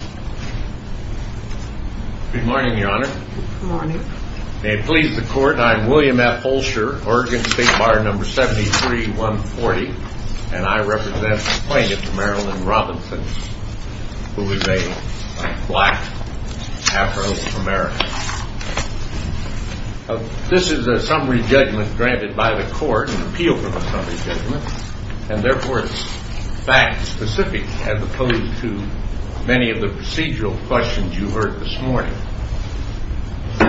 Good morning, Your Honor. May it please the Court, I am William F. Fulcher, Oregon State Bar No. 73-140, and I represent the plaintiff, Marilyn Robinson, who is a black Afro-American. This is a summary judgment granted by the Court, an appeal for the summary judgment, and therefore it's fact-specific as opposed to many of the procedural questions you heard this morning.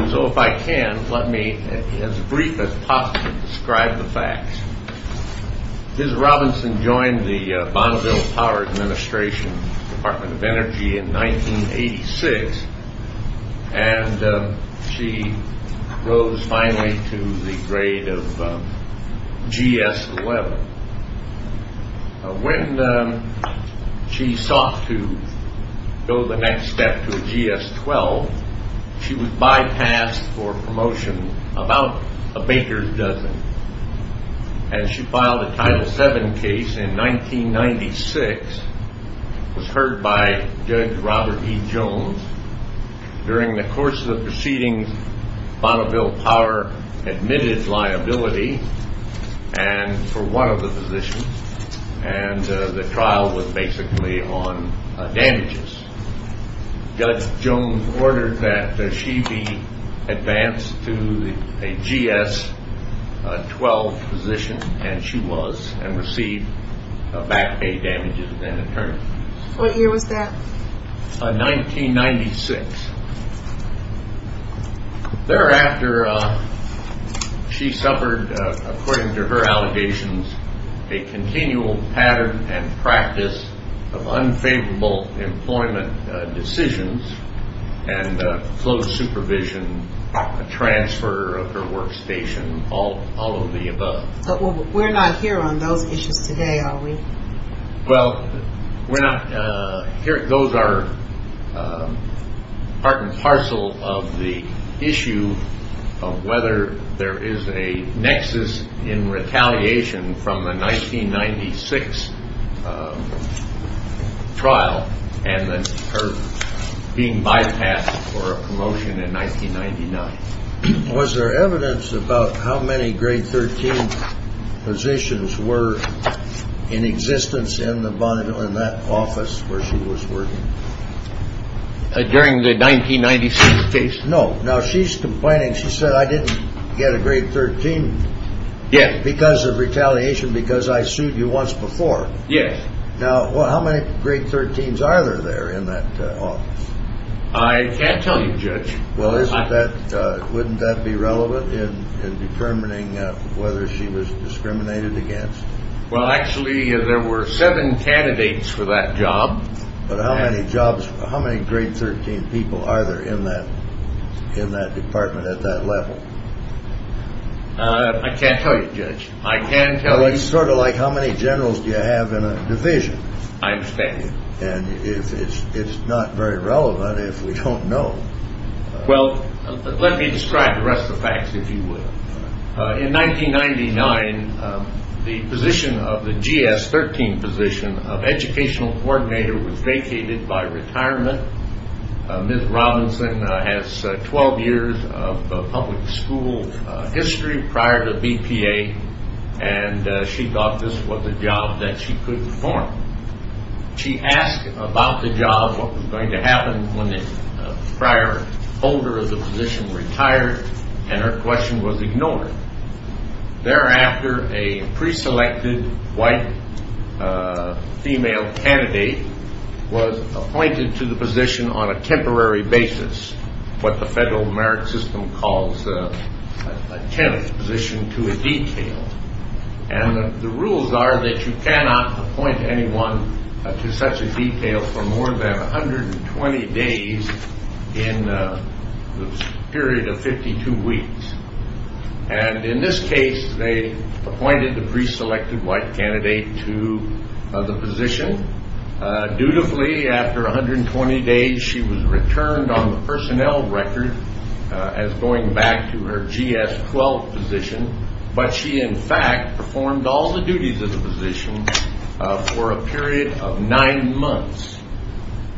So if I can, let me, as brief as possible, describe the facts. Ms. Robinson joined the Bonneville Power Administration Department of Energy in 1986, and she rose finally to the grade of GS-11. When she sought to go the next step to a GS-12, she was bypassed for promotion about a baker's dozen, and she filed a Title VII case in 1996. It was heard by Judge Robert E. Jones. During the course of the proceedings, Bonneville Power admitted liability for one of the positions, and the trial was basically on damages. Judge Jones ordered that she be advanced to a GS-12 position, and she was, and received back pay damages and attorneys. What year was that? 1996. Thereafter, she suffered, according to her allegations, a continual pattern and practice of unfavorable employment decisions and closed supervision, a transfer of her workstation, all of the above. But we're not here on those issues today, are we? Well, we're not. Here goes our part and parcel of the issue of whether there is a nexus in retaliation from the 1996 trial and her being bypassed for a promotion in 1999. Was there evidence about how many grade 13 positions were in existence in the Bonneville, in that office where she was working? During the 1996 case? No. Now, she's complaining. She said, I didn't get a grade 13. Yes. Because of retaliation, because I sued you once before. Yes. Now, how many grade 13s are there in that office? I can't tell you, Judge. Well, isn't that, wouldn't that be relevant in determining whether she was discriminated against? Well, actually, there were seven candidates for that job. But how many jobs, how many grade 13 people are there in that, in that department at that level? I can't tell you, Judge. I can tell you. Well, it's sort of like how many generals do you have in a division? I understand. It's not very relevant if we don't know. Well, let me describe the rest of the facts, if you would. In 1999, the position of the GS-13 position of educational coordinator was vacated by retirement. Ms. Robinson has 12 years of public school history prior to BPA, and she thought this was a job that she couldn't perform. She asked about the job, what was going to happen when the prior holder of the position retired, and her question was ignored. Thereafter, a preselected white female candidate was appointed to the position on a temporary basis, what the federal merit system calls a temp position to a detail. And the rules are that you cannot appoint anyone to such a detail for more than 120 days in the period of 52 weeks. And in this case, they appointed the preselected white candidate to the position. Dutifully, after 120 days, she was returned on the personnel record as going back to her GS-12 position. But she, in fact, performed all the duties of the position for a period of nine months.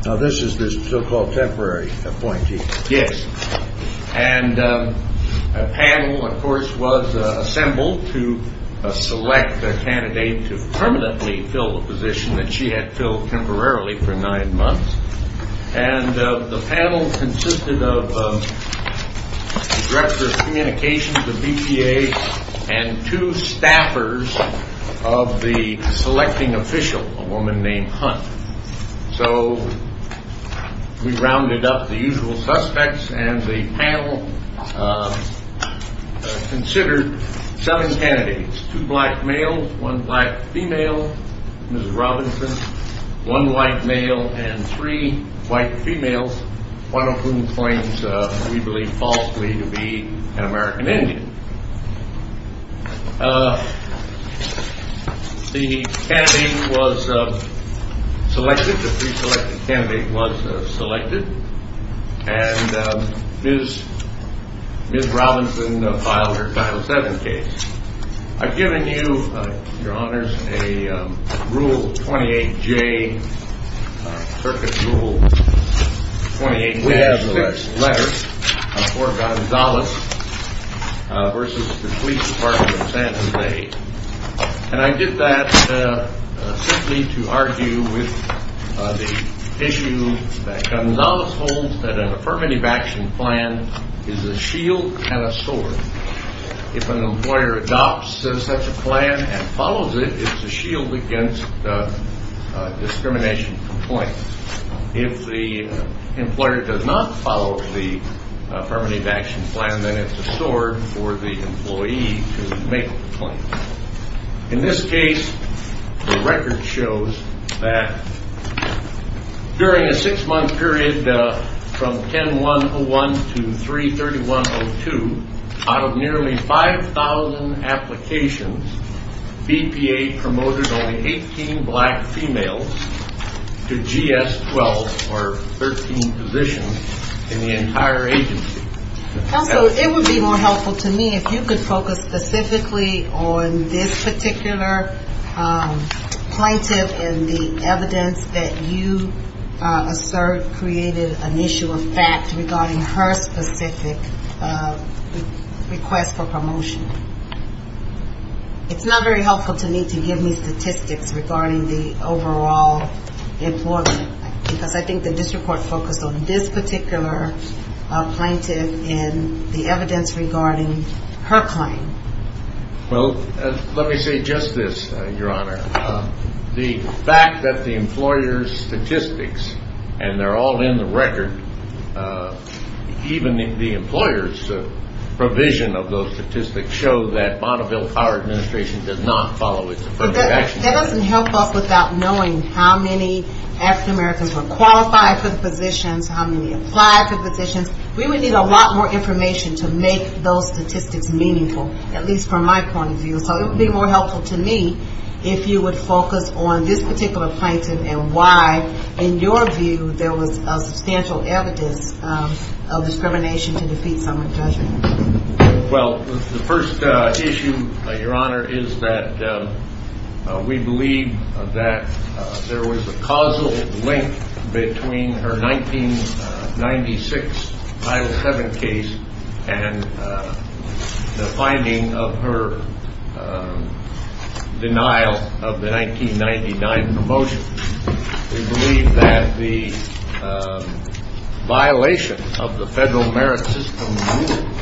Now, this is the so-called temporary appointee. Yes. And a panel, of course, was assembled to select a candidate to permanently fill the position that she had filled temporarily for nine months. And the panel consisted of the director of communications, the BPA, and two staffers of the selecting official, a woman named Hunt. So we rounded up the usual suspects, and the panel considered seven candidates, two black males, one black female, Ms. Robinson, one white male, and three white females, one of whom claims, we believe falsely, to be an American Indian. The candidate was selected, the preselected candidate was selected, and Ms. Robinson filed her Title VII case. I've given you, Your Honors, a Rule 28J, Circuit Rule 28J6 letter for Gonzales versus the police department of San Jose. And I did that simply to argue with the issue that Gonzales holds that an affirmative action plan is a shield and a sword. If an employer adopts such a plan and follows it, it's a shield against discrimination complaints. If the employer does not follow the affirmative action plan, then it's a sword for the employee to make the claim. In this case, the record shows that during a six-month period from 10-1-01 to 3-31-02, out of nearly 5,000 applications, BPA promoted only 18 black females to GS-12 or 13 positions in the entire agency. Also, it would be more helpful to me if you could focus specifically on this particular plaintiff and the evidence that you assert created an issue of fact regarding her specific request for promotion. It's not very helpful to me to give me statistics regarding the overall employment, because I think the district court focused on this particular plaintiff and the evidence regarding her claim. Well, let me say just this, Your Honor. The fact that the employer's statistics, and they're all in the record, even the employer's provision of those statistics show that Bonneville Power Administration did not follow its affirmative action plan. That doesn't help us without knowing how many African Americans were qualified for the positions, how many applied for positions. We would need a lot more information to make those statistics meaningful, at least from my point of view. So it would be more helpful to me if you would focus on this particular plaintiff and why, in your view, there was substantial evidence of discrimination to defeat someone's judgment. Well, the first issue, Your Honor, is that we believe that there was a causal link between her 1996 Title VII case and the finding of her denial of the 1999 promotion. We believe that the violation of the Federal Merit System rules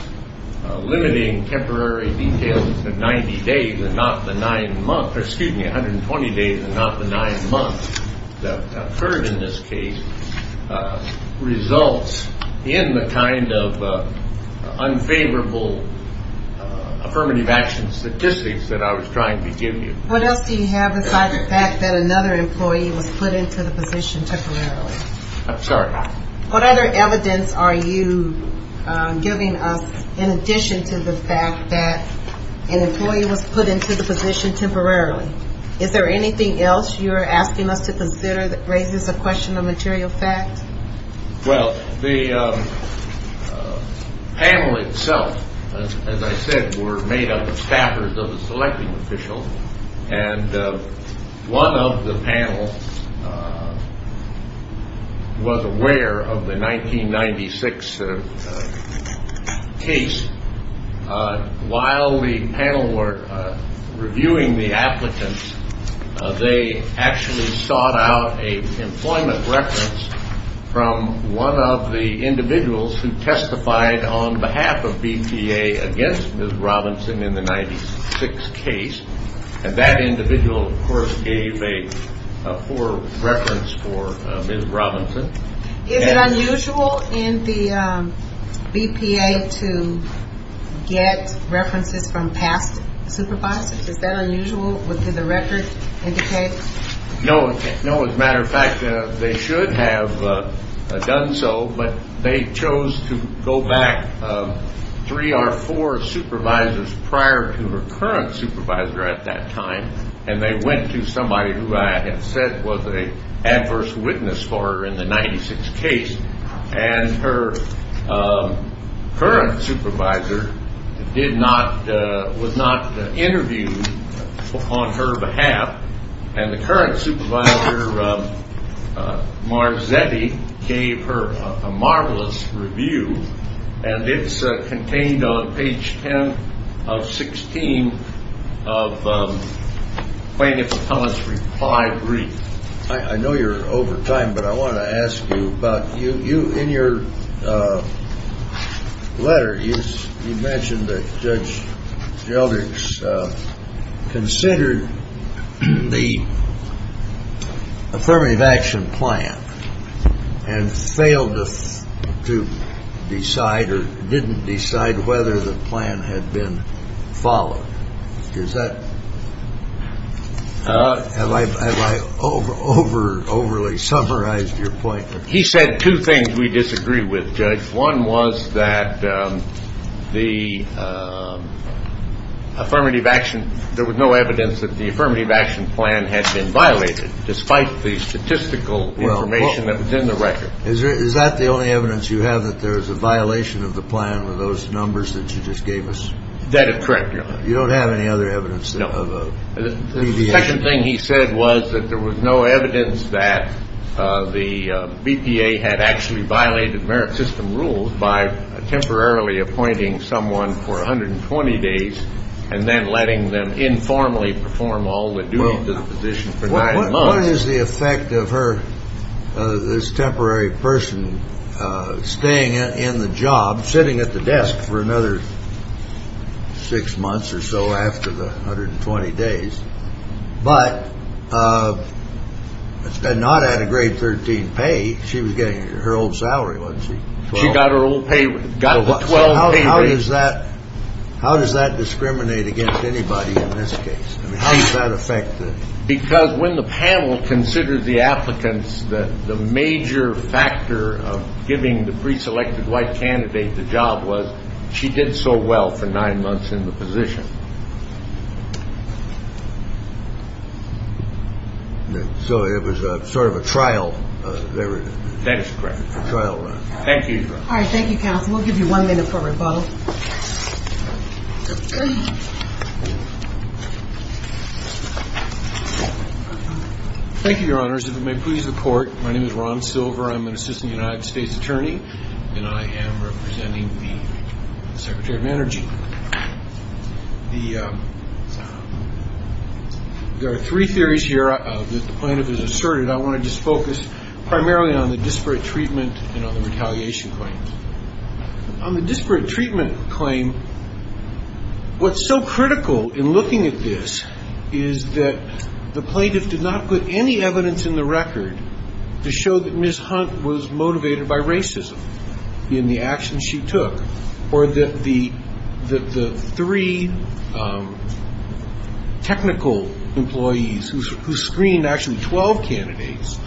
limiting temporary details to 90 days and not the nine months, or excuse me, 120 days and not the nine months that occurred in this case, results in the kind of unfavorable affirmative action statistics that I was trying to give you. What else do you have besides the fact that another employee was put into the position temporarily? I'm sorry? What other evidence are you giving us in addition to the fact that an employee was put into the position temporarily? Is there anything else you're asking us to consider that raises the question of material fact? Well, the panel itself, as I said, were made up of staffers of the selecting official, and one of the panels was aware of the 1996 case. While the panel were reviewing the applicants, they actually sought out an employment reference from one of the individuals who testified on behalf of BPA against Ms. Robinson in the 1996 case, and that individual, of course, gave a poor reference for Ms. Robinson. Is it unusual in the BPA to get references from past supervisors? Is that unusual? Would the record indicate? No. As a matter of fact, they should have done so, but they chose to go back three or four supervisors prior to her current supervisor at that time, and they went to somebody who I have said was an adverse witness for her in the 1996 case, and her current supervisor was not interviewed on her behalf, and the current supervisor, Marzetti, gave her a marvelous review, and it's contained on page 10 of 16 of plaintiff's comments reply brief. I know you're over time, but I want to ask you about you. In your letter, you mentioned that Judge Gelders considered the affirmative action plan and failed to decide or didn't decide whether the plan had been followed. Is that? Have I overly summarized your point? He said two things we disagree with, Judge. One was that there was no evidence that the affirmative action plan had been violated, despite the statistical information that was in the record. Is that the only evidence you have, that there was a violation of the plan with those numbers that you just gave us? That is correct, Your Honor. You don't have any other evidence of a BPA? The second thing he said was that there was no evidence that the BPA had actually violated merit system rules by temporarily appointing someone for 120 days and then letting them informally perform all the duties of the position for nine months. What is the effect of her, this temporary person staying in the job, sitting at the desk for another six months or so after the 120 days, but not at a grade 13 pay? She was getting her old salary, wasn't she? She got her old pay. How does that discriminate against anybody in this case? Because when the panel considered the applicants, the major factor of giving the preselected white candidate the job was she did so well for nine months in the position. So it was sort of a trial? That is correct. Thank you, counsel. We'll give you one minute for rebuttal. Thank you, Your Honors. If it may please the court, my name is Ron Silver. I'm an assistant United States attorney, and I am representing the Secretary of Energy. There are three theories here that the plaintiff has asserted. I want to just focus primarily on the disparate treatment and on the retaliation claims. On the disparate treatment claim, what's so critical in looking at this is that the plaintiff did not put any evidence in the record to show that Ms. Hunt was motivated by racism in the actions she took, or that the three technical employees who screened actually 12 candidates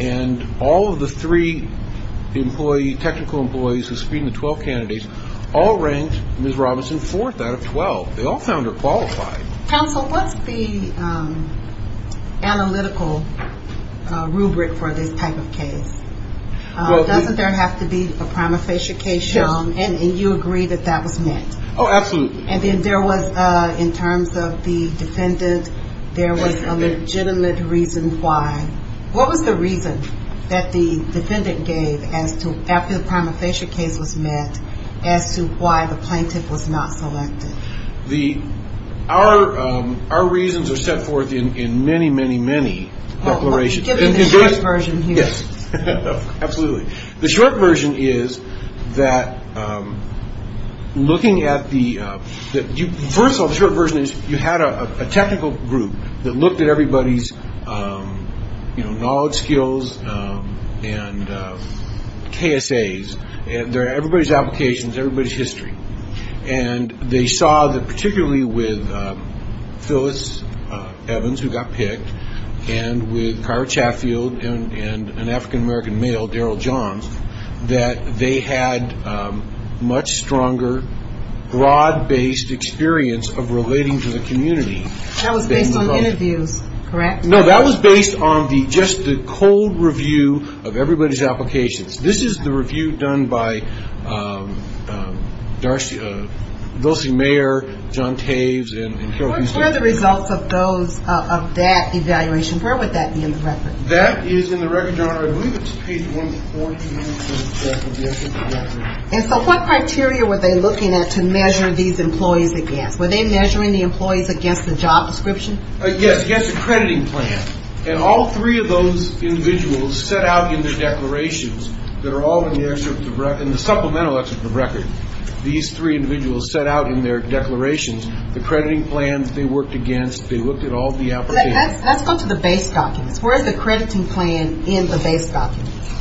and all of the three technical employees who screened the 12 candidates all ranked Ms. Robinson fourth out of 12. They all found her qualified. Counsel, what's the analytical rubric for this type of case? Doesn't there have to be a prima facie case shown, and you agree that that was met? Oh, absolutely. And then there was, in terms of the defendant, there was a legitimate reason why. What was the reason that the defendant gave after the prima facie case was met as to why the plaintiff was not selected? Our reasons are set forth in many, many, many declarations. Can you give me the short version here? Yes, absolutely. The short version is that looking at the – first of all, the short version is you had a technical group that looked at everybody's knowledge, skills, and KSAs, everybody's applications, everybody's history, and they saw that particularly with Phyllis Evans, who got picked, and with Kyra Chaffield and an African-American male, Daryl Johns, that they had much stronger, broad-based experience of relating to the community. That was based on interviews, correct? No, that was based on just the cold review of everybody's applications. This is the review done by Dulcey Mayer, John Taves, and Carol Beasley. What were the results of that evaluation? Where would that be in the record? That is in the record, Your Honor. I believe it's page 1-4 here. And so what criteria were they looking at to measure these employees against? Were they measuring the employees against the job description? Yes, against the crediting plan. And all three of those individuals set out in their declarations that are all in the supplemental excerpt of the record. These three individuals set out in their declarations the crediting plans they worked against. They looked at all the applications. Let's go to the base documents. Where is the crediting plan in the base documents?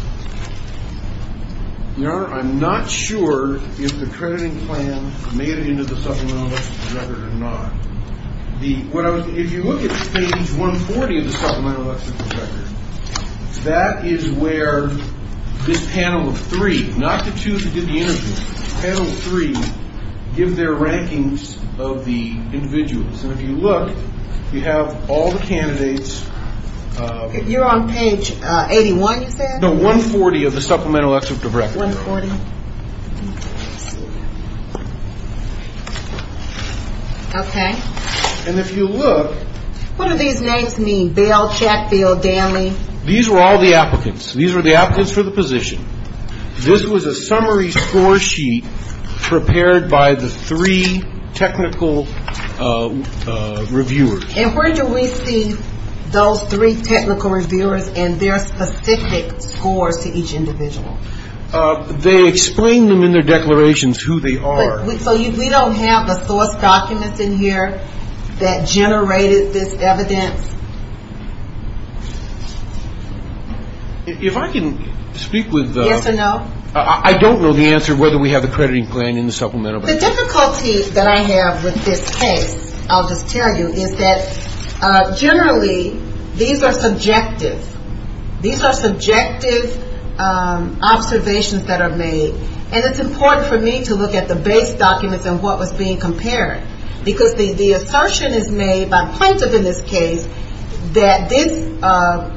Your Honor, I'm not sure if the crediting plan made it into the supplemental excerpt of the record or not. If you look at page 140 of the supplemental excerpt of the record, that is where this panel of three, not the two that did the interview, panel three give their rankings of the individuals. And if you look, you have all the candidates. You're on page 81, you said? No, 140 of the supplemental excerpt of the record. 140. Let's see here. Okay. And if you look. What do these names mean? Bell, Chatfield, Danley? These were all the applicants. These were the applicants for the position. This was a summary score sheet prepared by the three technical reviewers. And where do we see those three technical reviewers and their specific scores to each individual? They explain them in their declarations who they are. So we don't have the source documents in here that generated this evidence? If I can speak with the. Yes or no? I don't know the answer whether we have the crediting plan in the supplemental. The difficulty that I have with this case, I'll just tell you, is that generally these are subjective. These are subjective observations that are made. And it's important for me to look at the base documents and what was being compared. Because the assertion is made by Plaintiff in this case that this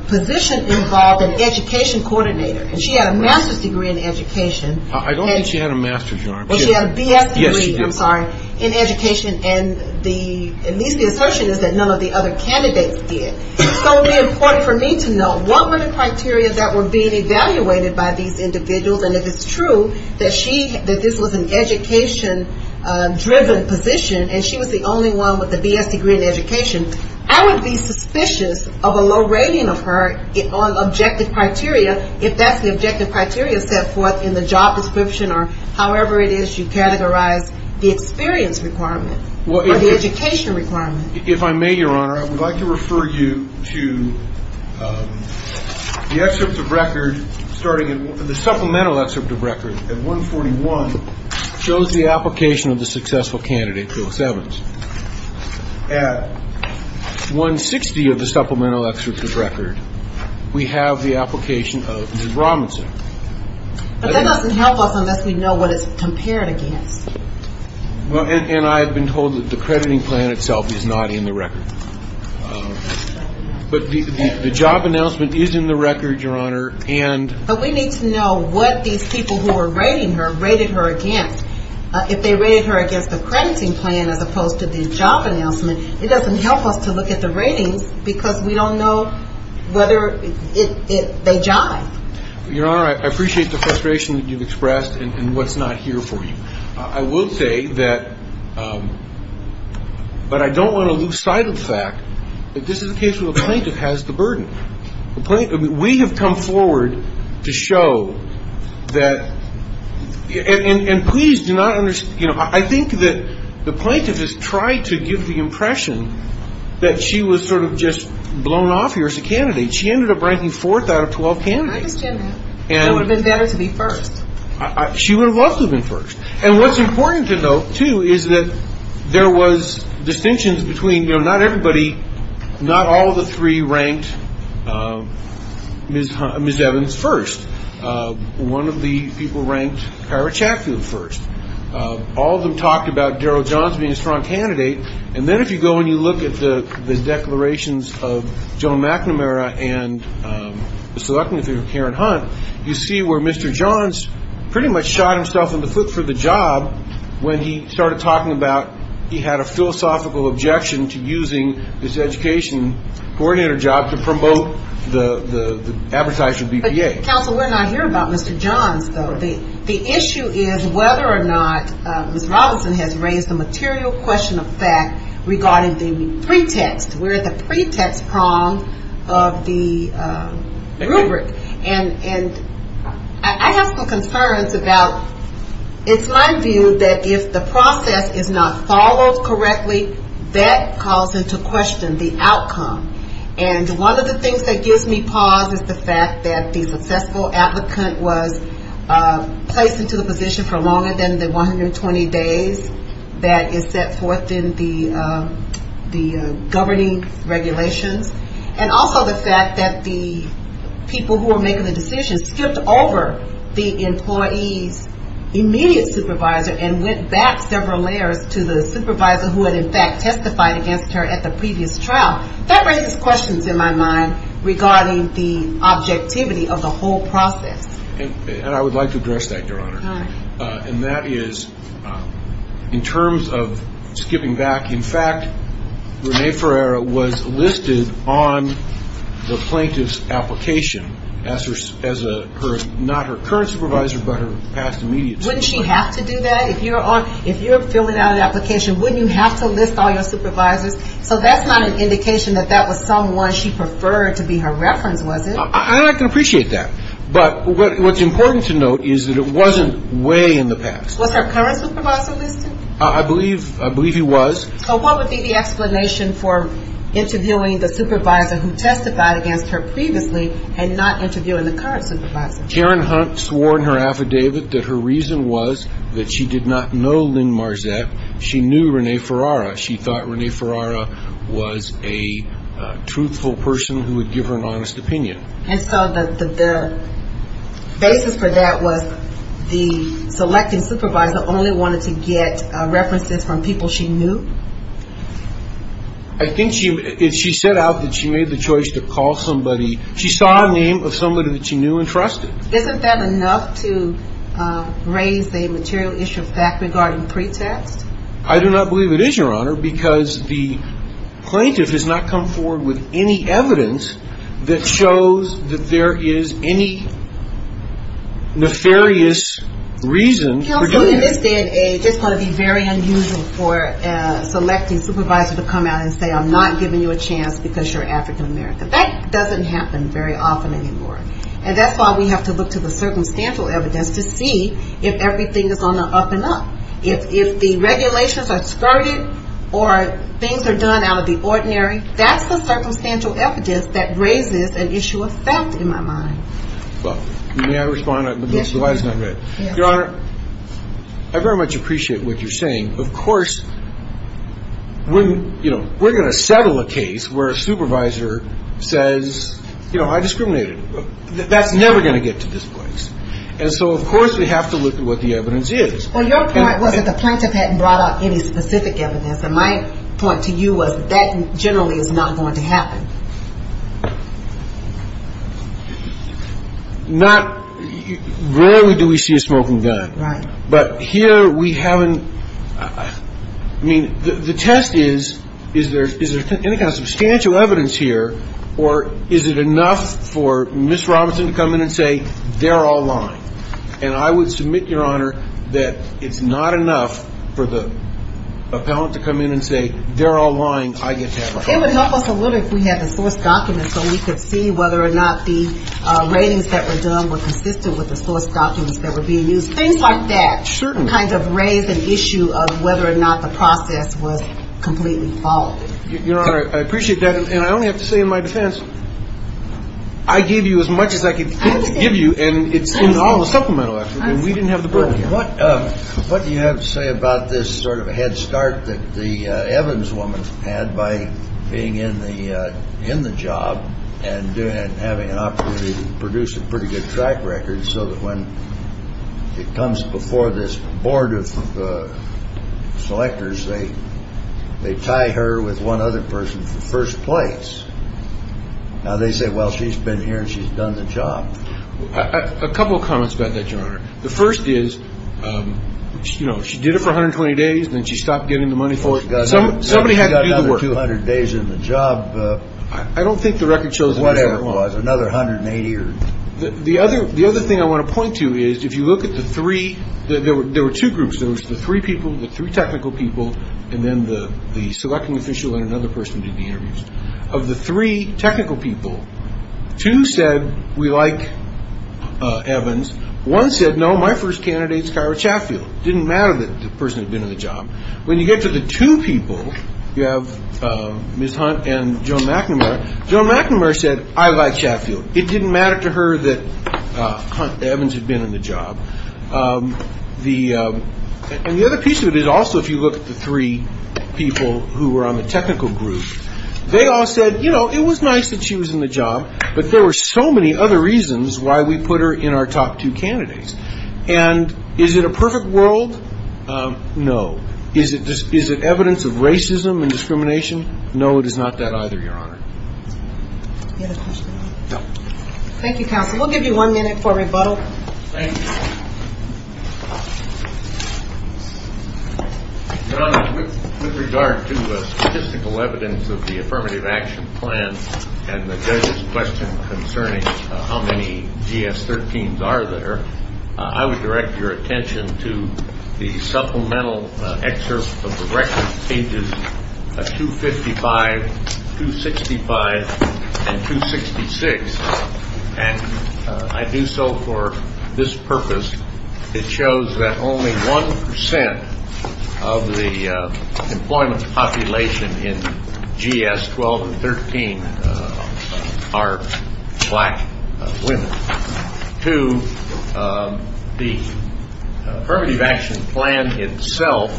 position involved an education coordinator. And she had a master's degree in education. I don't think she had a master's, Your Honor. Well, she had a BS degree. Yes, she did. I'm sorry. In education. And at least the assertion is that none of the other candidates did. So it would be important for me to know what were the criteria that were being evaluated by these individuals. And if it's true that this was an education-driven position and she was the only one with a BS degree in education, I would be suspicious of a low rating of her on objective criteria if that's the objective criteria set forth in the job description or however it is you categorize the experience requirement or the education requirement. If I may, Your Honor, I would like to refer you to the excerpt of record starting at the supplemental excerpt of record at 141 shows the application of the successful candidate, Phillips-Evans. At 160 of the supplemental excerpt of record, we have the application of Mr. Robinson. But that doesn't help us unless we know what it's compared against. And I have been told that the crediting plan itself is not in the record. But the job announcement is in the record, Your Honor, and we need to know what these people who were rating her rated her against. If they rated her against the crediting plan as opposed to the job announcement, it doesn't help us to look at the ratings because we don't know whether they jive. Your Honor, I appreciate the frustration that you've expressed and what's not here for you. I will say that, but I don't want to lose sight of the fact that this is a case where the plaintiff has the burden. We have come forward to show that, and please do not, you know, I think that the plaintiff has tried to give the impression that she was sort of just blown off here as a candidate. She ended up ranking fourth out of 12 candidates. I understand that. It would have been better to be first. She would have loved to have been first. And what's important to note, too, is that there was distinctions between, you know, not everybody, not all of the three ranked Ms. Evans first. One of the people ranked Kyra Chaffee first. All of them talked about Daryl Johns being a strong candidate. And then if you go and you look at the declarations of Joan McNamara and Karen Hunt, you see where Mr. Johns pretty much shot himself in the foot for the job when he started talking about he had a philosophical objection to using this education coordinator job to promote the advertising BPA. But, counsel, we're not here about Mr. Johns, though. The issue is whether or not Ms. Robinson has raised the material question of fact regarding the pretext. We're at the pretext prong of the rubric. And I have some concerns about it's my view that if the process is not followed correctly, that calls into question the outcome. And one of the things that gives me pause is the fact that the successful applicant was placed into the position for longer than the 120 days that is set forth in the governing regulations. And also the fact that the people who were making the decisions skipped over the employee's immediate supervisor and went back several layers to the supervisor who had, in fact, testified against her at the previous trial. That raises questions in my mind regarding the objectivity of the whole process. And I would like to address that, Your Honor. And that is in terms of skipping back. In fact, Renee Ferreira was listed on the plaintiff's application as not her current supervisor but her past immediate supervisor. Wouldn't she have to do that? If you're filling out an application, wouldn't you have to list all your supervisors? So that's not an indication that that was someone she preferred to be her reference, was it? I can appreciate that. But what's important to note is that it wasn't way in the past. Was her current supervisor listed? I believe he was. So what would be the explanation for interviewing the supervisor who testified against her previously and not interviewing the current supervisor? Karen Hunt swore in her affidavit that her reason was that she did not know Lynn Marzette. She knew Renee Ferreira. She thought Renee Ferreira was a truthful person who would give her an honest opinion. And so the basis for that was the selected supervisor only wanted to get references from people she knew? I think she said out that she made the choice to call somebody. She saw a name of somebody that she knew and trusted. Isn't that enough to raise a material issue of fact regarding pretext? I do not believe it is, Your Honor, because the plaintiff has not come forward with any evidence that shows that there is any nefarious reason for doing that. This is going to be very unusual for a selected supervisor to come out and say, I'm not giving you a chance because you're African-American. That doesn't happen very often anymore. And that's why we have to look to the circumstantial evidence to see if everything is on the up and up. If the regulations are skirted or things are done out of the ordinary, that's the circumstantial evidence that raises an issue of fact in my mind. May I respond? Your Honor, I very much appreciate what you're saying. Of course, we're going to settle a case where a supervisor says, you know, I discriminated. That's never going to get to this place. And so, of course, we have to look at what the evidence is. Well, your point was that the plaintiff hadn't brought out any specific evidence, and my point to you was that generally is not going to happen. Not rarely do we see a smoking gun. Right. But here we haven't. I mean, the test is, is there any kind of substantial evidence here, or is it enough for Ms. Robinson to come in and say they're all lying? And I would submit, Your Honor, that it's not enough for the appellant to come in and say they're all lying. I get to have a call. It would help us a little if we had the source documents so we could see whether or not the ratings that were done were consistent with the source documents that were being used. Things like that. Certainly. Kind of raise an issue of whether or not the process was completely followed. Your Honor, I appreciate that. And I only have to say in my defense, I gave you as much as I could give you, and it's in all the supplemental effort, and we didn't have the burden here. What do you have to say about this sort of a head start that the Evans woman had by being in the job and having an opportunity to produce a pretty good track record so that when it comes before this board of selectors, they tie her with one other person for first place. Now, they say, well, she's been here and she's done the job. A couple of comments about that, Your Honor. The first is, you know, she did it for 120 days, then she stopped getting the money for it. Somebody had to do the work. She got another 200 days in the job. I don't think the record shows that. Whatever it was, another 180 or so. The other thing I want to point to is, if you look at the three, there were two groups. There was the three people, the three technical people, and then the selecting official and another person did the interviews. Of the three technical people, two said, we like Evans. One said, no, my first candidate is Kyra Chatfield. It didn't matter that the person had been in the job. When you get to the two people, you have Ms. Hunt and Joan McNamara. Joan McNamara said, I like Chatfield. It didn't matter to her that Hunt Evans had been in the job. And the other piece of it is also if you look at the three people who were on the technical group, they all said, you know, it was nice that she was in the job, but there were so many other reasons why we put her in our top two candidates. And is it a perfect world? No. Is it evidence of racism and discrimination? No, it is not that either, Your Honor. Do you have a question? No. Thank you, counsel. We'll give you one minute for rebuttal. Thank you. Your Honor, with regard to statistical evidence of the affirmative action plan and the judge's question concerning how many GS-13s are there, I would direct your attention to the supplemental excerpt of the record, pages 255, 265, and 266. And I do so for this purpose. It shows that only 1% of the employment population in GS-12 and 13 are black women. Two, the affirmative action plan itself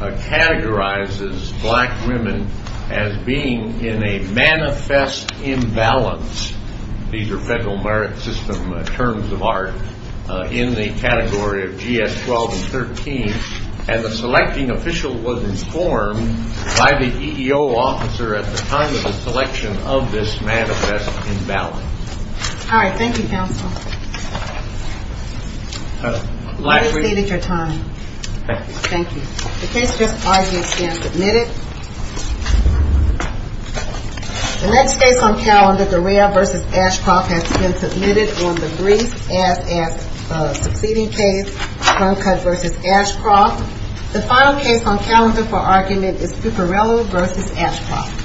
categorizes black women as being in a manifest imbalance. These are federal merit system terms of art in the category of GS-12 and 13. And the selecting official was informed by the EEO officer at the time of the selection of this manifest imbalance. All right. Thank you, counsel. You have exceeded your time. Thank you. The case just argued has been submitted. The next case on calendar, Dorea v. Ashcroft, has been submitted on the brief as a succeeding case, Truncutt v. Ashcroft. The final case on calendar for argument is Puparello v. Ashcroft. Thank you.